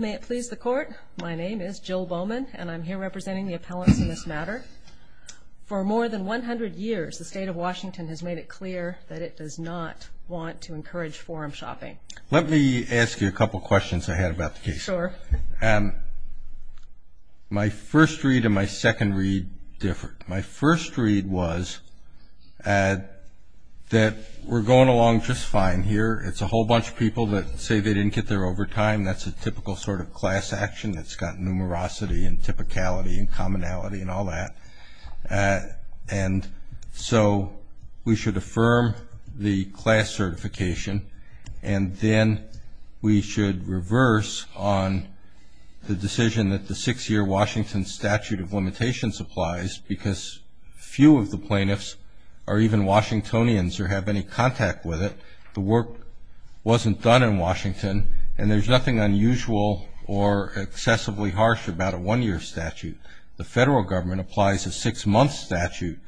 May it please the court, my name is Jill Bowman and I'm here representing the appellants in this matter. For more than 100 years, the state of Washington has made it clear that it does not want to encourage forum shopping. Let me ask you a couple questions I had about the case. Sure. My first read and my second read differ. My first read was that we're going along just fine here. It's a whole bunch of people that say they didn't get their overtime. That's a typical sort of class action that's got numerosity and typicality and commonality and all that. And so we should affirm the class certification, and then we should reverse on the decision that the six-year Washington statute of limitations applies, because few of the plaintiffs are even Washingtonians or have any contact with it. The work wasn't done in Washington, and there's nothing unusual or excessively harsh about a one-year statute. The federal government applies a six-month statute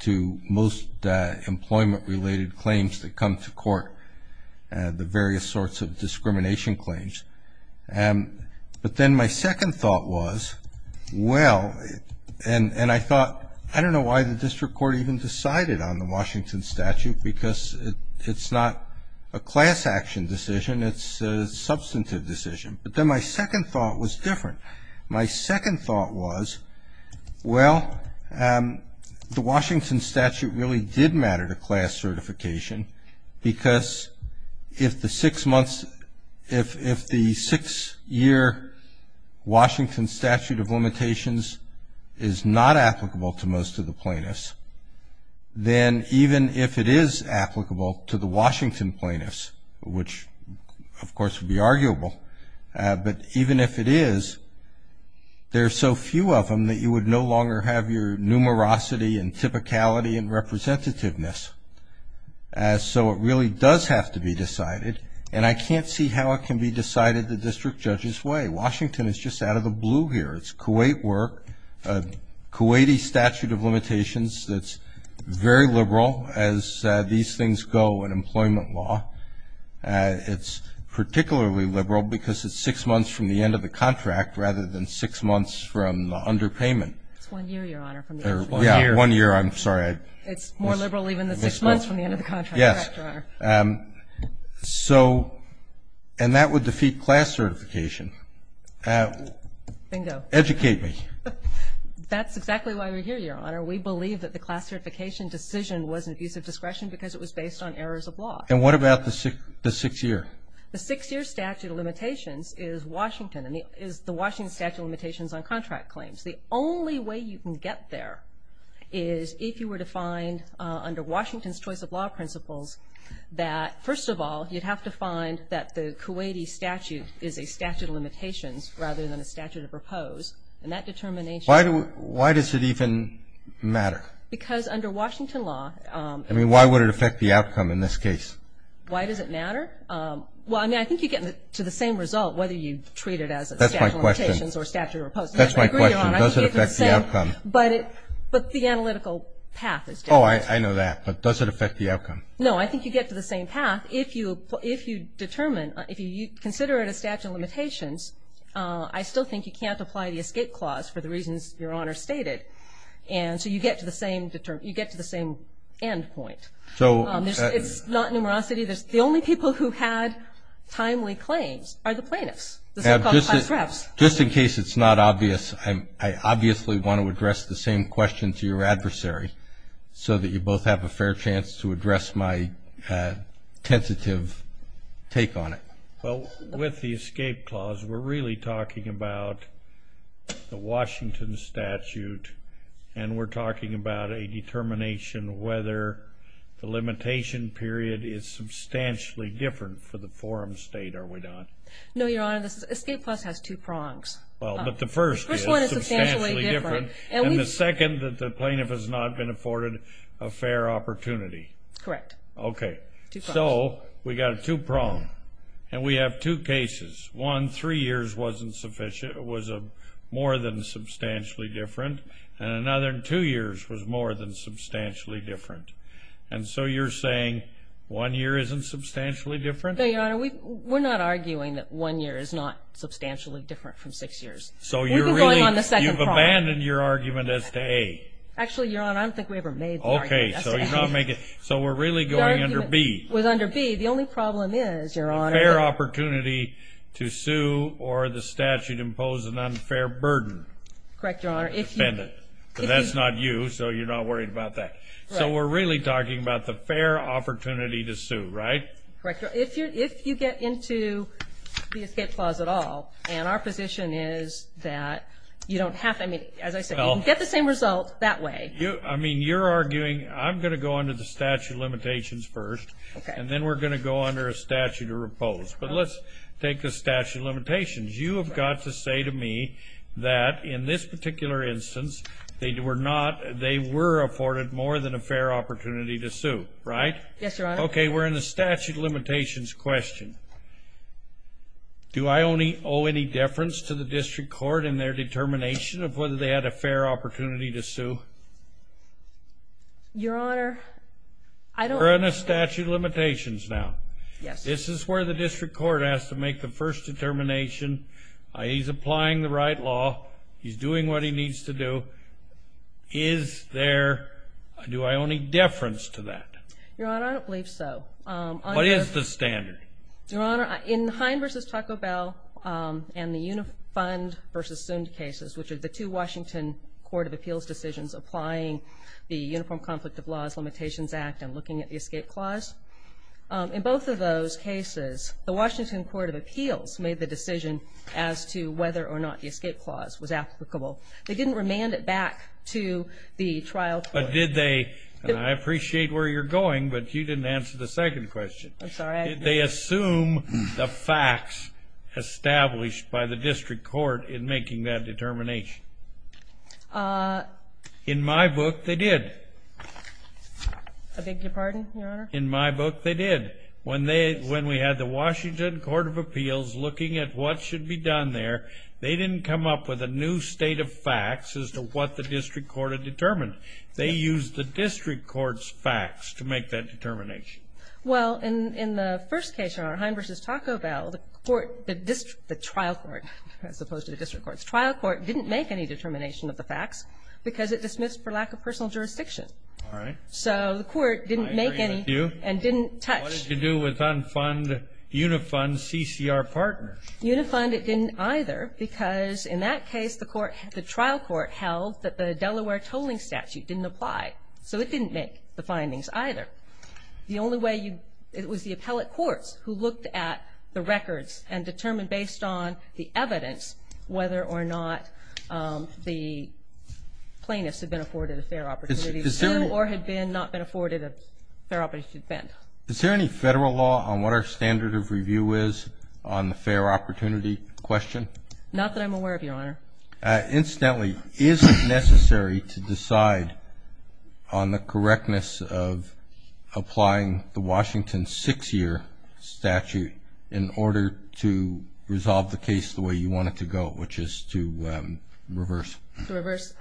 to most employment-related claims that come to court, the various sorts of discrimination claims. But then my second thought was, well, and I thought, I don't know why the district court even decided on the Washington statute, because it's not a class action decision. It's a substantive decision. But then my second thought was different. My second thought was, well, the Washington statute really did matter to class certification, because if the six-year Washington statute of limitations is not applicable to most of the plaintiffs, then even if it is applicable to the Washington plaintiffs, which, of course, would be arguable, but even if it is, there are so few of them that you would no longer have your numerosity and typicality and representativeness. So it really does have to be decided, and I can't see how it can be decided the district judge's way. Washington is just out of the blue here. It's Kuwait work, a Kuwaiti statute of limitations that's very liberal as these things go in employment law. It's particularly liberal because it's six months from the end of the contract rather than six months from the underpayment. It's one year, Your Honor. Yeah, one year. I'm sorry. It's more liberal even than six months from the end of the contract. Yes. Correct, Your Honor. So, and that would defeat class certification. Bingo. Educate me. That's exactly why we're here, Your Honor. We believe that the class certification decision was an abuse of discretion because it was based on errors of law. And what about the six-year? The six-year statute of limitations is the Washington statute of limitations on contract claims. The only way you can get there is if you were to find under Washington's choice of law principles that, first of all, you'd have to find that the Kuwaiti statute is a statute of limitations rather than a statute of repose. And that determination. Why does it even matter? Because under Washington law. I mean, why would it affect the outcome in this case? Why does it matter? Well, I mean, I think you get to the same result whether you treat it as a statute of limitations or statute of repose. That's my question. Does it affect the outcome? But the analytical path is different. Oh, I know that. But does it affect the outcome? No, I think you get to the same path if you determine, if you consider it a statute of limitations. I still think you can't apply the escape clause for the reasons Your Honor stated. And so you get to the same end point. So. It's not numerosity. The only people who had timely claims are the plaintiffs. Just in case it's not obvious, I obviously want to address the same question to your adversary so that you both have a fair chance to address my tentative take on it. Well, with the escape clause, we're really talking about the Washington statute, and we're talking about a determination whether the limitation period is substantially different for the forum state, are we not? No, Your Honor. The escape clause has two prongs. Well, but the first is substantially different. The first one is substantially different. And the second, that the plaintiff has not been afforded a fair opportunity. Correct. Okay. Two prongs. So we've got a two prong, and we have two cases. One, three years was more than substantially different, and another two years was more than substantially different. And so you're saying one year isn't substantially different? No, Your Honor. We're not arguing that one year is not substantially different from six years. We've been going on the second prong. So you've abandoned your argument as to A. Actually, Your Honor, I don't think we ever made the argument as to A. Okay. So we're really going under B. With under B, the only problem is, Your Honor. A fair opportunity to sue or the statute impose an unfair burden. Correct, Your Honor. But that's not you, so you're not worried about that. So we're really talking about the fair opportunity to sue, right? Correct. If you get into the escape clause at all, and our position is that you don't have to, I mean, as I said, you can get the same result that way. I mean, you're arguing I'm going to go under the statute of limitations first, and then we're going to go under a statute of impose. But let's take the statute of limitations. You have got to say to me that in this particular instance, they were afforded more than a fair opportunity to sue, right? Yes, Your Honor. Okay, we're in the statute of limitations question. Do I only owe any deference to the district court in their determination of whether they had a fair opportunity to sue? Your Honor, I don't. We're in a statute of limitations now. Yes. This is where the district court has to make the first determination. He's applying the right law. He's doing what he needs to do. Is there, do I owe any deference to that? Your Honor, I don't believe so. What is the standard? Your Honor, in Hine v. Taco Bell and the Unifund v. Sund cases, which are the two Washington Court of Appeals decisions applying the Uniform Conflict of Laws Limitations Act and looking at the escape clause, in both of those cases the Washington Court of Appeals made the decision as to whether or not the escape clause was applicable. They didn't remand it back to the trial court. I appreciate where you're going, but you didn't answer the second question. I'm sorry. Did they assume the facts established by the district court in making that determination? In my book, they did. I beg your pardon, Your Honor? In my book, they did. When we had the Washington Court of Appeals looking at what should be done there, they didn't come up with a new state of facts as to what the district court had determined. They used the district court's facts to make that determination. Well, in the first case, Your Honor, Hine v. Taco Bell, the court, the trial court, as opposed to the district court, the trial court didn't make any determination of the facts because it dismissed for lack of personal jurisdiction. All right. So the court didn't make any and didn't touch. I agree with you. What did it do with Unifund CCR partners? Unifund, it didn't either because in that case, the trial court held that the Delaware tolling statute didn't apply. So it didn't make the findings either. The only way you, it was the appellate courts who looked at the records and determined based on the evidence whether or not the plaintiffs had been afforded a fair opportunity to sue or had not been afforded a fair opportunity to defend. Is there any federal law on what our standard of review is on the fair opportunity question? Not that I'm aware of, Your Honor. Incidentally, is it necessary to decide on the correctness of applying the Washington six-year statute in order to resolve the case the way you want it to go, which is to reverse? To reverse.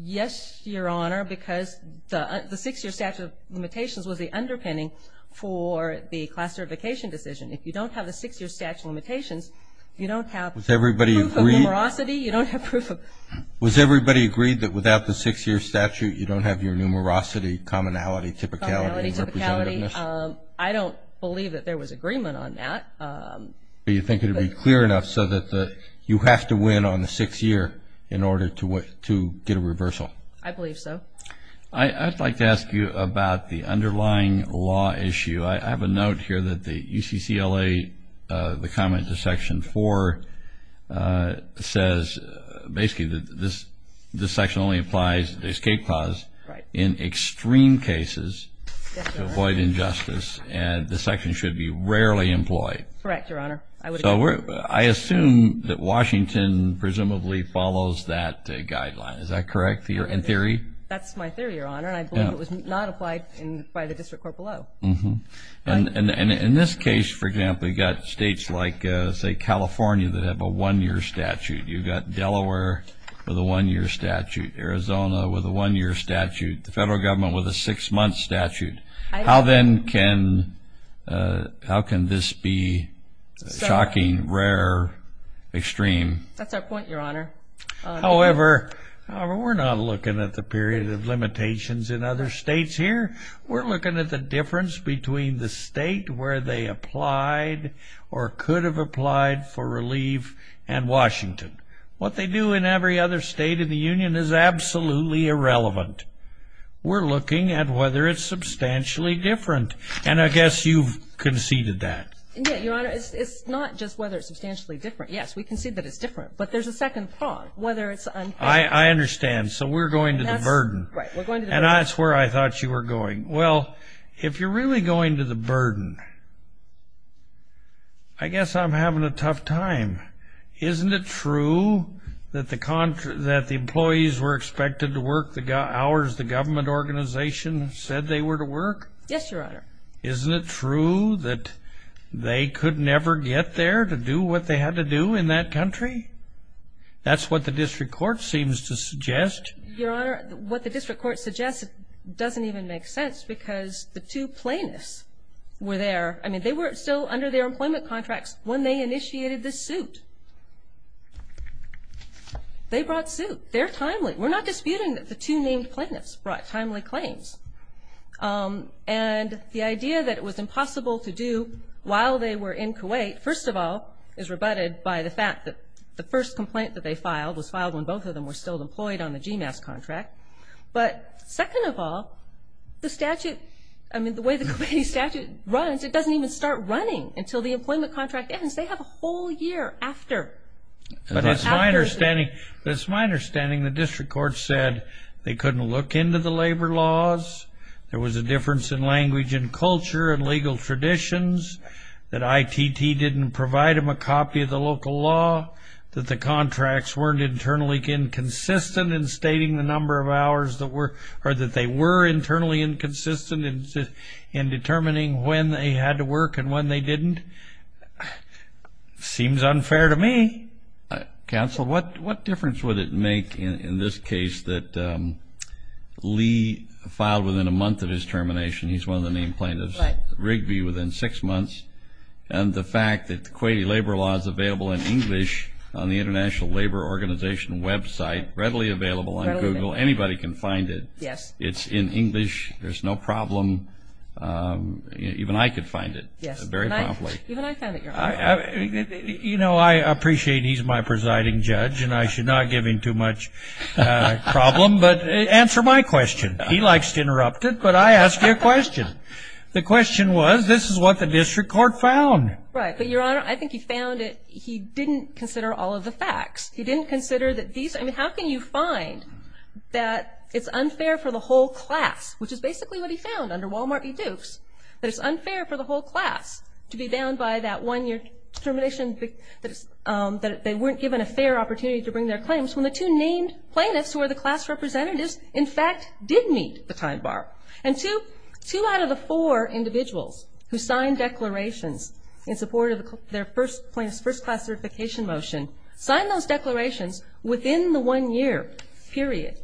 Yes, Your Honor, because the six-year statute of limitations was the underpinning for the class certification decision. If you don't have the six-year statute of limitations, you don't have proof of numerosity. Was everybody agreed that without the six-year statute, you don't have your numerosity, commonality, typicality, and representativeness? I don't believe that there was agreement on that. Do you think it would be clear enough so that you have to win on the six-year in order to get a reversal? I believe so. I'd like to ask you about the underlying law issue. I have a note here that the UCCLA, the comment to Section 4, says basically that this section only applies the escape clause in extreme cases to avoid injustice and the section should be rarely employed. Correct, Your Honor. I assume that Washington presumably follows that guideline. Is that correct in theory? That's my theory, Your Honor, and I believe it was not applied by the district court below. In this case, for example, you've got states like, say, California that have a one-year statute. You've got Delaware with a one-year statute, Arizona with a one-year statute, the federal government with a six-month statute. How then can this be shocking, rare, extreme? That's our point, Your Honor. However, we're not looking at the period of limitations in other states here. We're looking at the difference between the state where they applied or could have applied for relief and Washington. What they do in every other state in the union is absolutely irrelevant. We're looking at whether it's substantially different, and I guess you've conceded that. Yes, Your Honor, it's not just whether it's substantially different. Yes, we concede that it's different, but there's a second thought, whether it's unfair. I understand. So we're going to the burden. And that's where I thought you were going. Well, if you're really going to the burden, I guess I'm having a tough time. Isn't it true that the employees were expected to work the hours the government organization said they were to work? Yes, Your Honor. Isn't it true that they could never get there to do what they had to do in that country? That's what the district court seems to suggest. Your Honor, what the district court suggests doesn't even make sense because the two plaintiffs were there. I mean, they were still under their employment contracts when they initiated the suit. They brought suit. They're timely. We're not disputing that the two named plaintiffs brought timely claims. And the idea that it was impossible to do while they were in Kuwait, first of all, is rebutted by the fact that the first complaint that they filed was filed when both of them were still employed on the GMAS contract. But second of all, the statute, I mean, the way the Kuwaiti statute runs, it doesn't even start running until the employment contract ends. They have a whole year after. But it's my understanding the district court said they couldn't look into the labor laws there was a difference in language and culture and legal traditions, that ITT didn't provide them a copy of the local law, that the contracts weren't internally inconsistent in stating the number of hours or that they were internally inconsistent in determining when they had to work and when they didn't. Seems unfair to me. Counsel, what difference would it make in this case that Lee filed within a month of his termination, he's one of the named plaintiffs, Rigby within six months, and the fact that the Kuwaiti labor law is available in English on the International Labor Organization website, readily available on Google. Anybody can find it. Yes. It's in English. There's no problem. Even I could find it very promptly. Even I found it. You know, I appreciate he's my presiding judge, and I should not give him too much problem, but answer my question. He likes to interrupt it, but I ask you a question. The question was, this is what the district court found. Right. But, Your Honor, I think he found it, he didn't consider all of the facts. He didn't consider that these, I mean, how can you find that it's unfair for the whole class, which is basically what he found under Wal-Mart v. Dukes, that it's unfair for the whole class to be bound by that one-year termination, that they weren't given a fair opportunity to bring their claims, when the two named plaintiffs who were the class representatives, in fact, did meet the time bar. And two out of the four individuals who signed declarations in support of their first class certification motion signed those declarations within the one-year period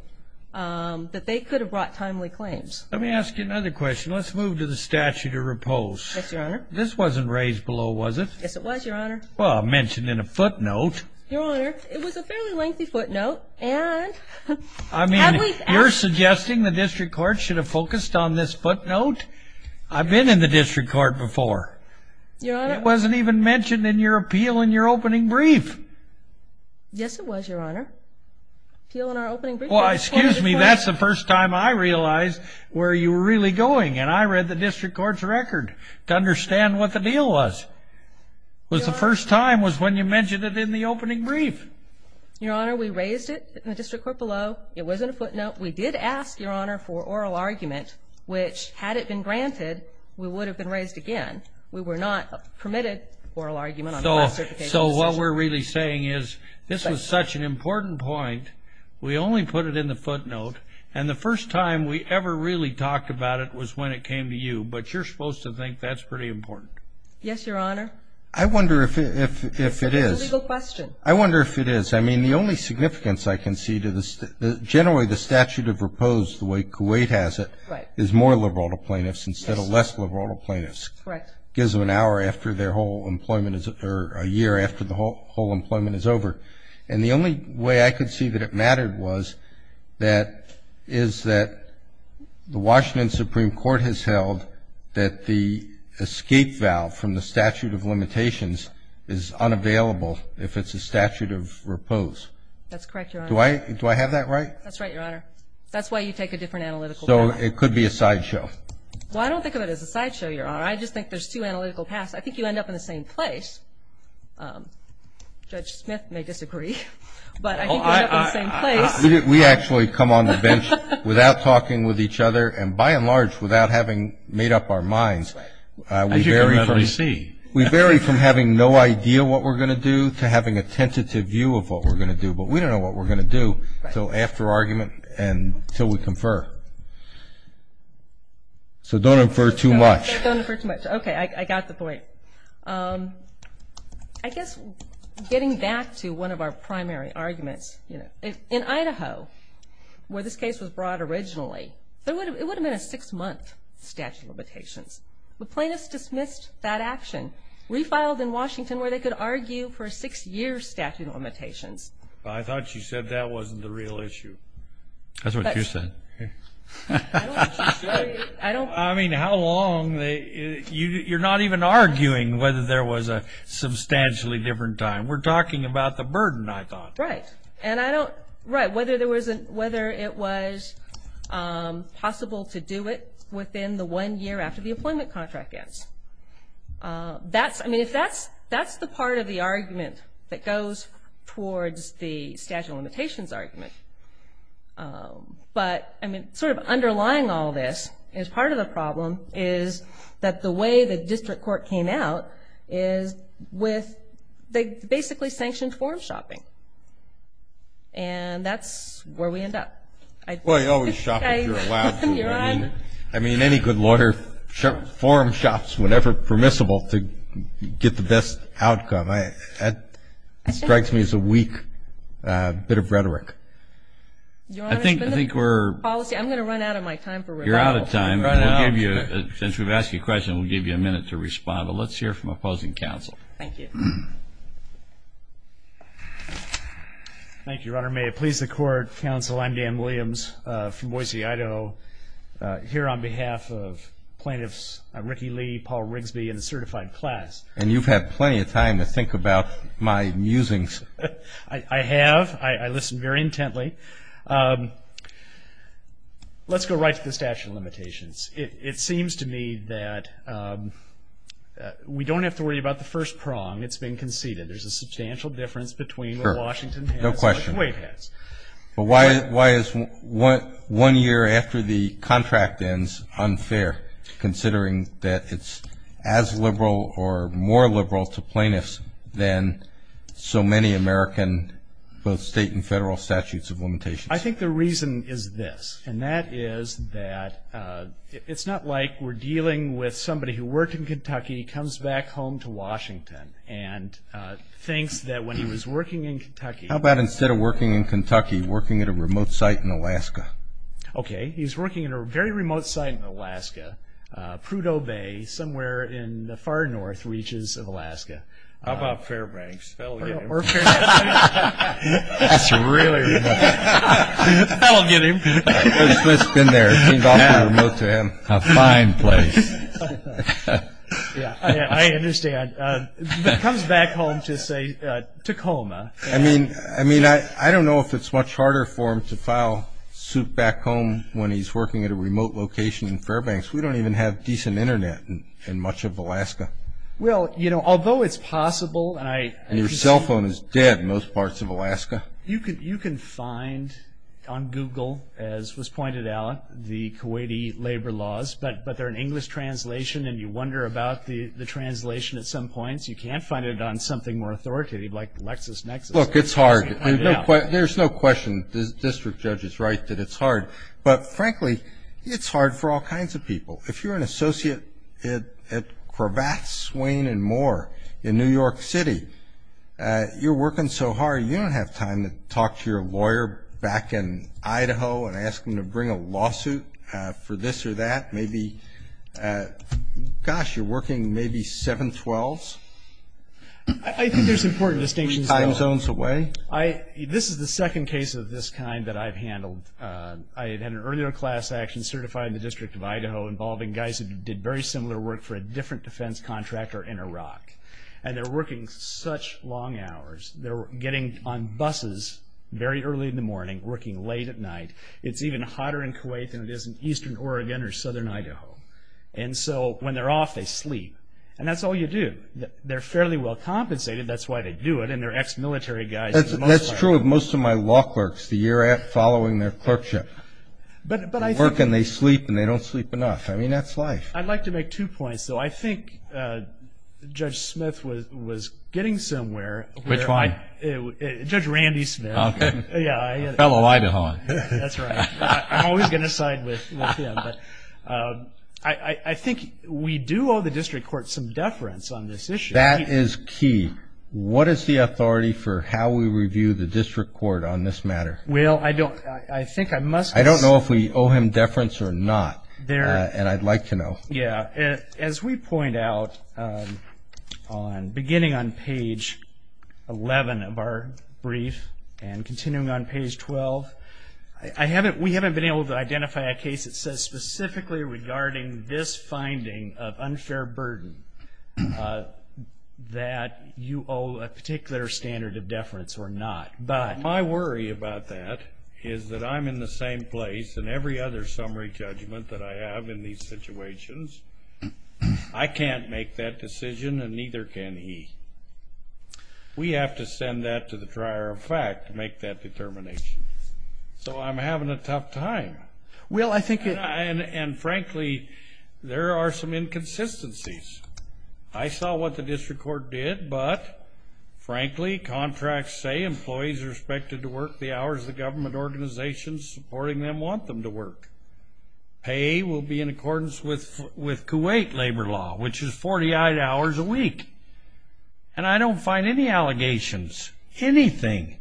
that they could have brought timely claims. Let me ask you another question. Let's move to the statute of repose. Yes, Your Honor. This wasn't raised below, was it? Yes, it was, Your Honor. Well, I mentioned it in a footnote. Your Honor, it was a fairly lengthy footnote. I mean, you're suggesting the district court should have focused on this footnote? I've been in the district court before. Your Honor. It wasn't even mentioned in your appeal in your opening brief. Yes, it was, Your Honor. Appeal in our opening brief. Well, excuse me, that's the first time I realized where you were really going, and I read the district court's record to understand what the deal was. It was the first time was when you mentioned it in the opening brief. Your Honor, we raised it in the district court below. It wasn't a footnote. We did ask, Your Honor, for oral argument, which, had it been granted, we would have been raised again. We were not permitted oral argument on the class certification decision. So what we're really saying is this was such an important point. We only put it in the footnote, and the first time we ever really talked about it was when it came to you. But you're supposed to think that's pretty important. Yes, Your Honor. I wonder if it is. It's a legal question. I wonder if it is. I mean, the only significance I can see to this, generally, the statute of repose, the way Kuwait has it, is more liberal to plaintiffs instead of less liberal to plaintiffs. Correct. Gives them an hour after their whole employment or a year after the whole employment is over. And the only way I could see that it mattered was that is that the Washington Supreme Court has held that the escape valve from the statute of limitations is unavailable if it's a statute of repose. That's correct, Your Honor. Do I have that right? That's right, Your Honor. That's why you take a different analytical path. So it could be a sideshow. Well, I don't think of it as a sideshow, Your Honor. I just think there's two analytical paths. I think you end up in the same place. Judge Smith may disagree. But I think you end up in the same place. We actually come on the bench without talking with each other and, by and large, without having made up our minds. As you can probably see. We vary from having no idea what we're going to do to having a tentative view of what we're going to do. But we don't know what we're going to do until after argument and until we confer. So don't infer too much. Don't infer too much. Okay. I got the point. I guess getting back to one of our primary arguments. In Idaho, where this case was brought originally, it would have been a six-month statute of limitations. The plaintiffs dismissed that action, refiled in Washington where they could argue for a six-year statute of limitations. I thought you said that wasn't the real issue. That's what you said. That's what you said. I mean, how long? You're not even arguing whether there was a substantially different time. We're talking about the burden, I thought. Right. Whether it was possible to do it within the one year after the employment contract ends. I mean, that's the part of the argument that goes towards the statute of limitations argument. But, I mean, sort of underlying all this is part of the problem is that the way the district court came out is with basically sanctioned form shopping. And that's where we end up. Well, you always shop if you're allowed to. You're on. I mean, any good lawyer form shops whenever permissible to get the best outcome. That strikes me as a weak bit of rhetoric. Your Honor, I'm going to run out of my time for rebuttal. You're out of time. Since we've asked you a question, we'll give you a minute to respond. But let's hear from opposing counsel. Thank you. Thank you, Your Honor. May it please the Court, Counsel, I'm Dan Williams from Boise, Idaho, here on behalf of plaintiffs Ricky Lee, Paul Rigsby, and the certified class. And you've had plenty of time to think about my musings. I have. I listen very intently. Let's go right to the statute of limitations. It seems to me that we don't have to worry about the first prong. It's been conceded. There's a substantial difference between what Washington has and what the waive has. But why is one year after the contract ends unfair, considering that it's as liberal or more liberal to plaintiffs than so many American, both state and federal, statutes of limitations? I think the reason is this, and that is that it's not like we're dealing with somebody who worked in Kentucky, comes back home to Washington, and thinks that when he was working in Kentucky. How about instead of working in Kentucky, working at a remote site in Alaska? Okay. He's working at a very remote site in Alaska, Prudhoe Bay, somewhere in the far north reaches of Alaska. How about Fairbanks? That's really remote. That'll get him. He's been there. A fine place. I understand. But comes back home to, say, Tacoma. I mean, I don't know if it's much harder for him to file suit back home when he's working at a remote location in Fairbanks. We don't even have decent Internet in much of Alaska. Well, you know, although it's possible. Your cell phone is dead in most parts of Alaska. You can find on Google, as was pointed out, the Kuwaiti labor laws, but they're an English translation, and you wonder about the translation at some points. You can't find it on something more authoritative like LexisNexis. Look, it's hard. There's no question. The district judge is right that it's hard. But, frankly, it's hard for all kinds of people. If you're an associate at Cravath, Swain, and Moore in New York City, you're working so hard, you don't have time to talk to your lawyer back in Idaho and ask them to bring a lawsuit for this or that. Maybe, gosh, you're working maybe 7-12s. I think there's important distinctions, though. Time zones away. This is the second case of this kind that I've handled. I had an earlier class action certified in the District of Idaho involving guys who did very similar work for a different defense contractor in Iraq, and they're working such long hours. They're getting on buses very early in the morning, working late at night. It's even hotter in Kuwait than it is in eastern Oregon or southern Idaho. And so when they're off, they sleep. And that's all you do. They're fairly well compensated. That's why they do it, and they're ex-military guys. That's true of most of my law clerks the year following their clerkship. They work and they sleep, and they don't sleep enough. I mean, that's life. I'd like to make two points, though. I think Judge Smith was getting somewhere. Which one? Judge Randy Smith. Okay. Fellow Idahoan. That's right. I'm always going to side with him. I think we do owe the district court some deference on this issue. That is key. What is the authority for how we review the district court on this matter? Well, I don't know if we owe him deference or not, and I'd like to know. Yeah. As we point out, beginning on page 11 of our brief and continuing on page 12, we haven't been able to identify a case that says specifically regarding this finding of unfair burden that you owe a particular standard of deference or not. My worry about that is that I'm in the same place in every other summary judgment that I have in these situations. I can't make that decision, and neither can he. We have to send that to the dryer of fact to make that determination. So I'm having a tough time. And, frankly, there are some inconsistencies. I saw what the district court did, but, frankly, contracts say employees are Pay will be in accordance with Kuwait labor law, which is 48 hours a week. And I don't find any allegations, anything,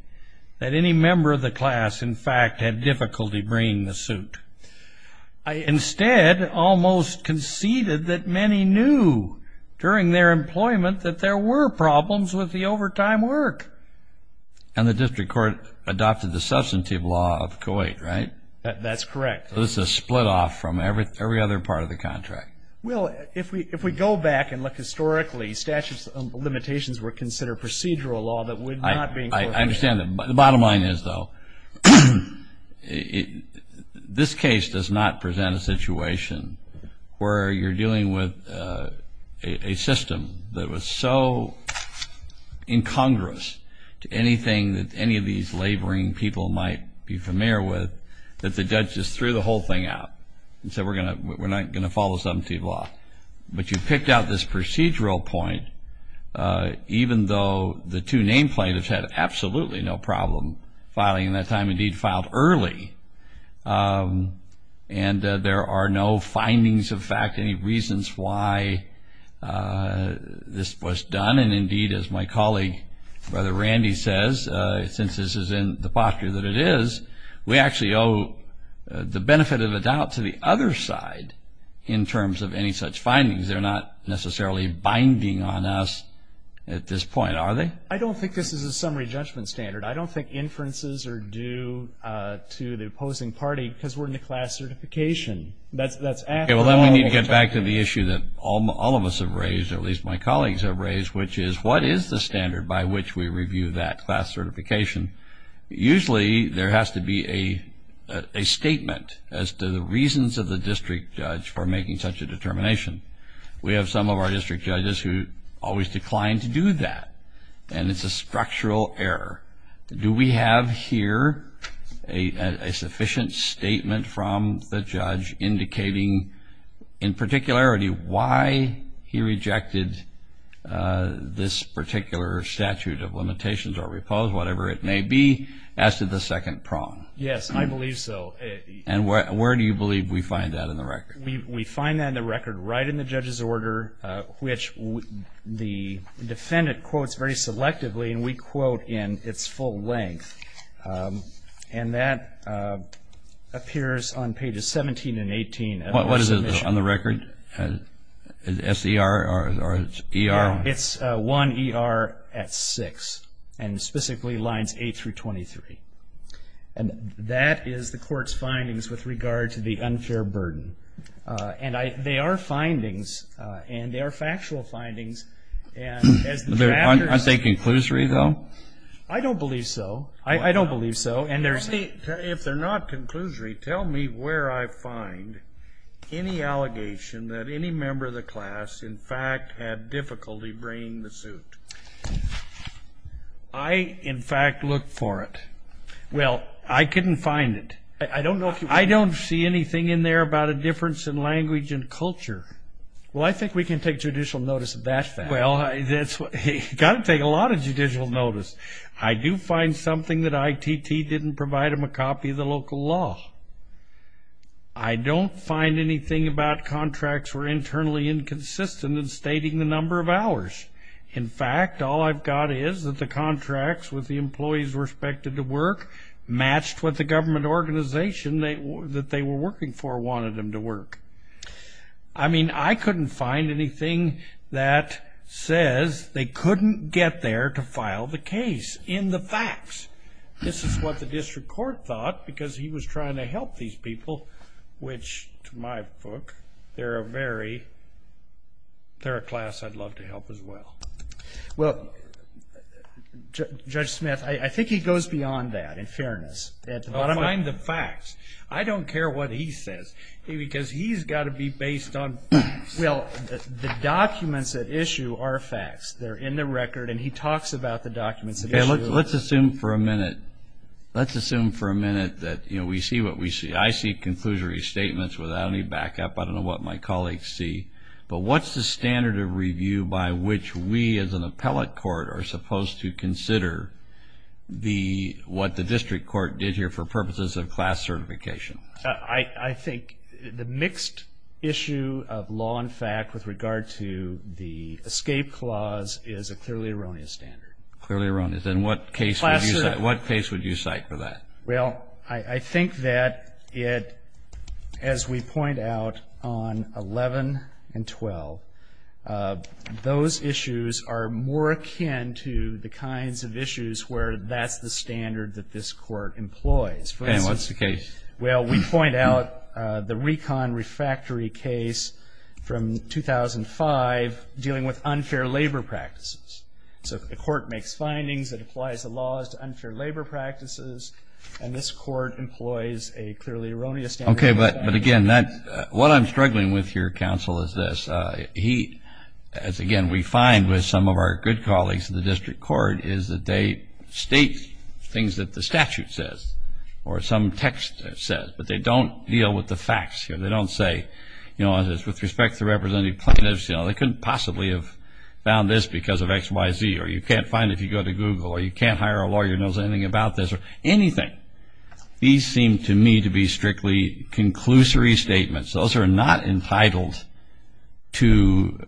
that any member of the class, in fact, had difficulty bringing the suit. I instead almost conceded that many knew during their employment that there were problems with the overtime work. And the district court adopted the substantive law of Kuwait, right? That's correct. So this is a split off from every other part of the contract. Well, if we go back and look historically, statute of limitations were considered procedural law that would not be included. I understand. The bottom line is, though, this case does not present a situation where you're dealing with a system that was so incongruous to anything that any of these that the judge just threw the whole thing out and said, we're not going to follow substantive law. But you picked out this procedural point, even though the two name plaintiffs had absolutely no problem filing in that time, indeed, filed early. And there are no findings of fact, any reasons why this was done. And, indeed, as my colleague, Brother Randy says, since this is in the posture that it is, we actually owe the benefit of the doubt to the other side in terms of any such findings. They're not necessarily binding on us at this point, are they? I don't think this is a summary judgment standard. I don't think inferences are due to the opposing party because we're in the class certification. That's after the normal. Okay. Well, then we need to get back to the issue that all of us have raised, or at least my colleagues have raised, which is what is the standard by which we review that class certification? Usually there has to be a statement as to the reasons of the district judge for making such a determination. We have some of our district judges who always decline to do that, and it's a structural error. Do we have here a sufficient statement from the judge indicating, in this particular statute of limitations or repose, whatever it may be, as to the second prong? Yes, I believe so. And where do you believe we find that in the record? We find that in the record right in the judge's order, which the defendant quotes very selectively, and we quote in its full length. And that appears on pages 17 and 18. What is it on the record? Is it S-E-R or E-R? It's 1-E-R at 6, and specifically lines 8 through 23. And that is the court's findings with regard to the unfair burden. And they are findings, and they are factual findings. Aren't they conclusory, though? I don't believe so. I don't believe so. If they're not conclusory, tell me where I find any allegation that any member of the class, in fact, had difficulty bringing the suit. I, in fact, looked for it. Well, I couldn't find it. I don't see anything in there about a difference in language and culture. Well, I think we can take judicial notice of that fact. Well, you've got to take a lot of judicial notice. I do find something that ITT didn't provide them a copy of the local law. I don't find anything about contracts were internally inconsistent in stating the number of hours. In fact, all I've got is that the contracts with the employees respected to work matched what the government organization that they were working for wanted them to work. I mean, I couldn't find anything that says they couldn't get there to file the case in the facts. This is what the district court thought because he was trying to help these people, which, to my book, they're a class I'd love to help as well. Well, Judge Smith, I think he goes beyond that, in fairness. Find the facts. I don't care what he says because he's got to be based on facts. Well, the documents at issue are facts. They're in the record, and he talks about the documents at issue. Let's assume for a minute that we see what we see. I see conclusory statements without any backup. I don't know what my colleagues see. But what's the standard of review by which we, as an appellate court, are supposed to consider what the district court did here for purposes of class certification? I think the mixed issue of law and fact with regard to the escape clause is a clearly erroneous standard. Clearly erroneous. Then what case would you cite for that? Well, I think that it, as we point out on 11 and 12, those issues are more akin to the kinds of issues where that's the standard that this court employs. And what's the case? Well, we point out the recon refractory case from 2005 dealing with unfair labor practices. So the court makes findings that applies the laws to unfair labor practices, and this court employs a clearly erroneous standard. Okay, but again, what I'm struggling with here, counsel, is this. He, as again we find with some of our good colleagues in the district court, is that they state things that the statute says or some text says, but they don't deal with the facts here. They don't say, you know, with respect to the representative plaintiffs, you know, I couldn't possibly have found this because of X, Y, Z, or you can't find it if you go to Google, or you can't hire a lawyer who knows anything about this, or anything. These seem to me to be strictly conclusory statements. Those are not entitled to,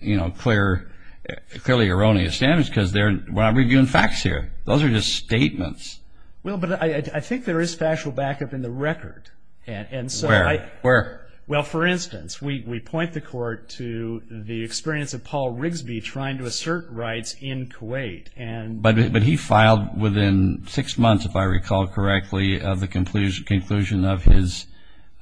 you know, clearly erroneous standards because we're not reviewing facts here. Those are just statements. Well, but I think there is factual backup in the record. Where? Well, for instance, we point the court to the experience of Paul Rigsby trying to assert rights in Kuwait. But he filed within six months, if I recall correctly, of the conclusion of his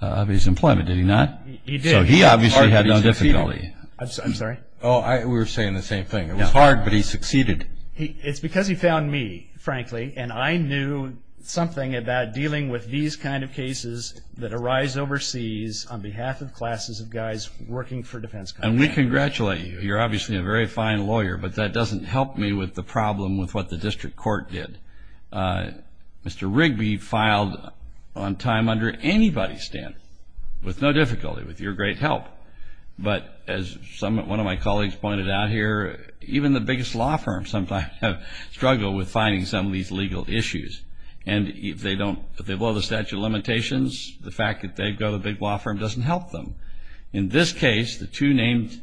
employment, did he not? He did. So he obviously had no difficulty. I'm sorry? Oh, we were saying the same thing. It was hard, but he succeeded. It's because he found me, frankly, and I knew something about dealing with these kind of cases that arise overseas on behalf of classes of guys working for defense companies. And we congratulate you. You're obviously a very fine lawyer, but that doesn't help me with the problem with what the district court did. Mr. Rigsby filed on time under anybody's standards, with no difficulty, with your great help. But as one of my colleagues pointed out here, even the biggest law firms sometimes struggle with finding some of these legal issues. And if they blow the statute of limitations, the fact that they've got a big law firm doesn't help them. In this case, the two named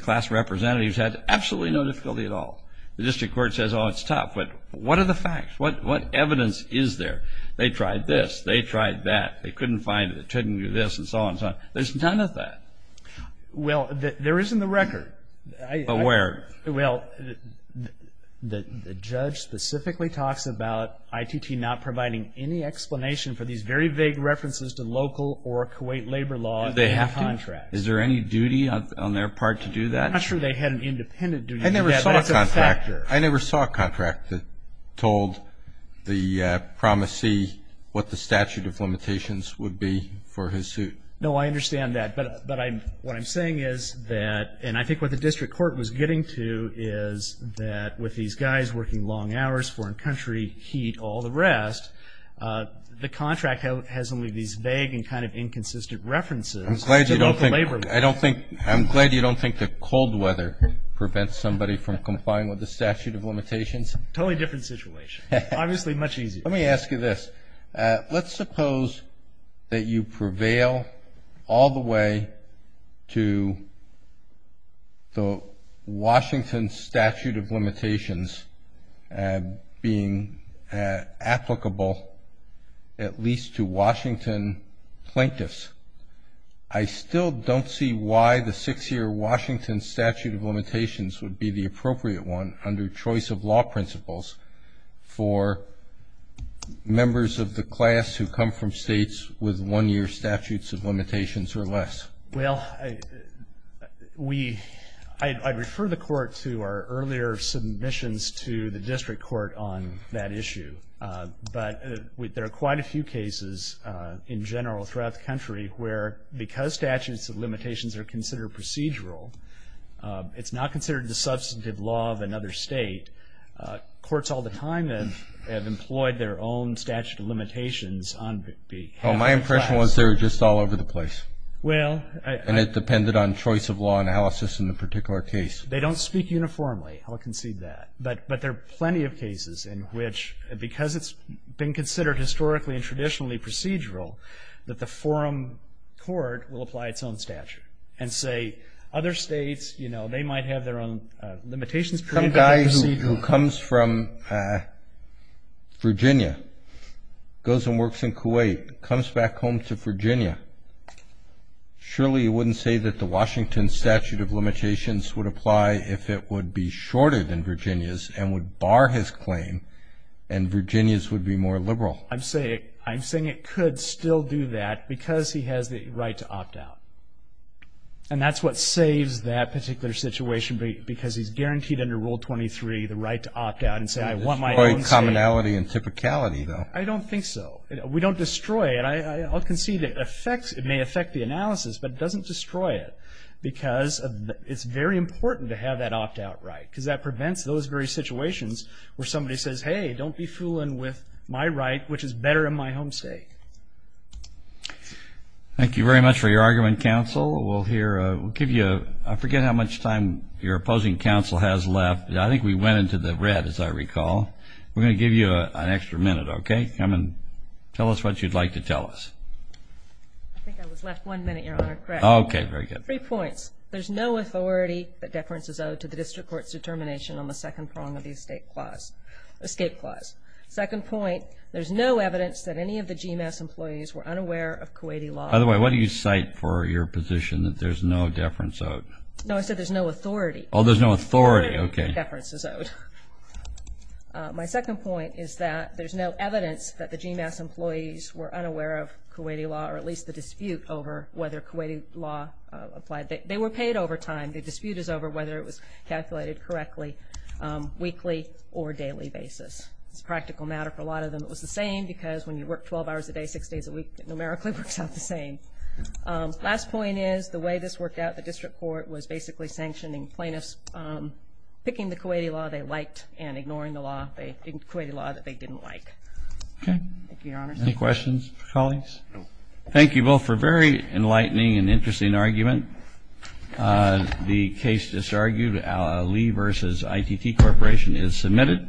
class representatives had absolutely no difficulty at all. The district court says, oh, it's tough. But what are the facts? What evidence is there? They tried this. They tried that. They couldn't find it. They couldn't do this and so on and so on. There's none of that. Well, there is in the record. But where? Well, the judge specifically talks about ITT not providing any explanation for these very vague references to local or Kuwait labor law contracts. Do they have to? Is there any duty on their part to do that? I'm not sure they had an independent duty to do that, but it's a factor. I never saw a contract that told the promisee what the statute of limitations would be for his suit. No, I understand that. But what I'm saying is that, and I think what the district court was getting to is that with these guys working long hours, foreign country, heat, all the rest, the contract has only these vague and kind of inconsistent references to local labor law. I'm glad you don't think the cold weather prevents somebody from complying with the statute of limitations. Totally different situation. Obviously much easier. Let me ask you this. Let's suppose that you prevail all the way to the Washington statute of limitations being applicable at least to Washington plaintiffs. I still don't see why the six-year Washington statute of limitations would be the appropriate one under choice of law principles for members of the class who come from states with one-year statutes of limitations or less. Well, I'd refer the court to our earlier submissions to the district court on that issue. But there are quite a few cases in general throughout the country where because statutes of limitations are considered procedural, it's not considered the substantive law of another state. Courts all the time have employed their own statute of limitations on behalf of the class. Well, my impression was they were just all over the place. And it depended on choice of law analysis in the particular case. They don't speak uniformly. I'll concede that. But there are plenty of cases in which because it's been considered historically and traditionally procedural, that the forum court will apply its own statute and say other states, you know, they might have their own limitations. Some guy who comes from Virginia, goes and works in Kuwait, comes back home to Virginia, surely he wouldn't say that the Washington statute of limitations would apply if it would be shorted in Virginia's and would bar his claim and Virginia's would be more liberal. I'm saying it could still do that because he has the right to opt out. And that's what saves that particular situation because he's guaranteed under Rule 23 the right to opt out and say, I want my own state. Commonality and typicality, though. I don't think so. We don't destroy it. I'll concede it may affect the analysis, but it doesn't destroy it because it's very important to have that opt out right. Because that prevents those very situations where somebody says, hey, don't be fooling with my right, which is better in my home state. Thank you very much for your argument, counsel. I forget how much time your opposing counsel has left. I think we went into the red, as I recall. We're going to give you an extra minute, okay? Come and tell us what you'd like to tell us. I think I was left one minute, Your Honor. Correct. Okay, very good. Three points. First, there's no authority that deference is owed to the district court's determination on the second prong of the escape clause. Second point, there's no evidence that any of the GMAS employees were unaware of Kuwaiti law. By the way, what do you cite for your position that there's no deference owed? No, I said there's no authority. Oh, there's no authority. Okay. Deference is owed. My second point is that there's no evidence that the GMAS employees were unaware of Kuwaiti law, or at least the dispute over whether Kuwaiti law applied. They were paid overtime. The dispute is over whether it was calculated correctly weekly or daily basis. It's a practical matter for a lot of them. It was the same because when you work 12 hours a day, six days a week, it numerically works out the same. Last point is the way this worked out, the district court was basically sanctioning plaintiffs, picking the Kuwaiti law they liked and ignoring the law, the Kuwaiti law that they didn't like. Okay. Thank you, Your Honor. Any questions for colleagues? No. Thank you both for a very enlightening and interesting argument. The case disargued, Lee v. ITT Corporation, is submitted.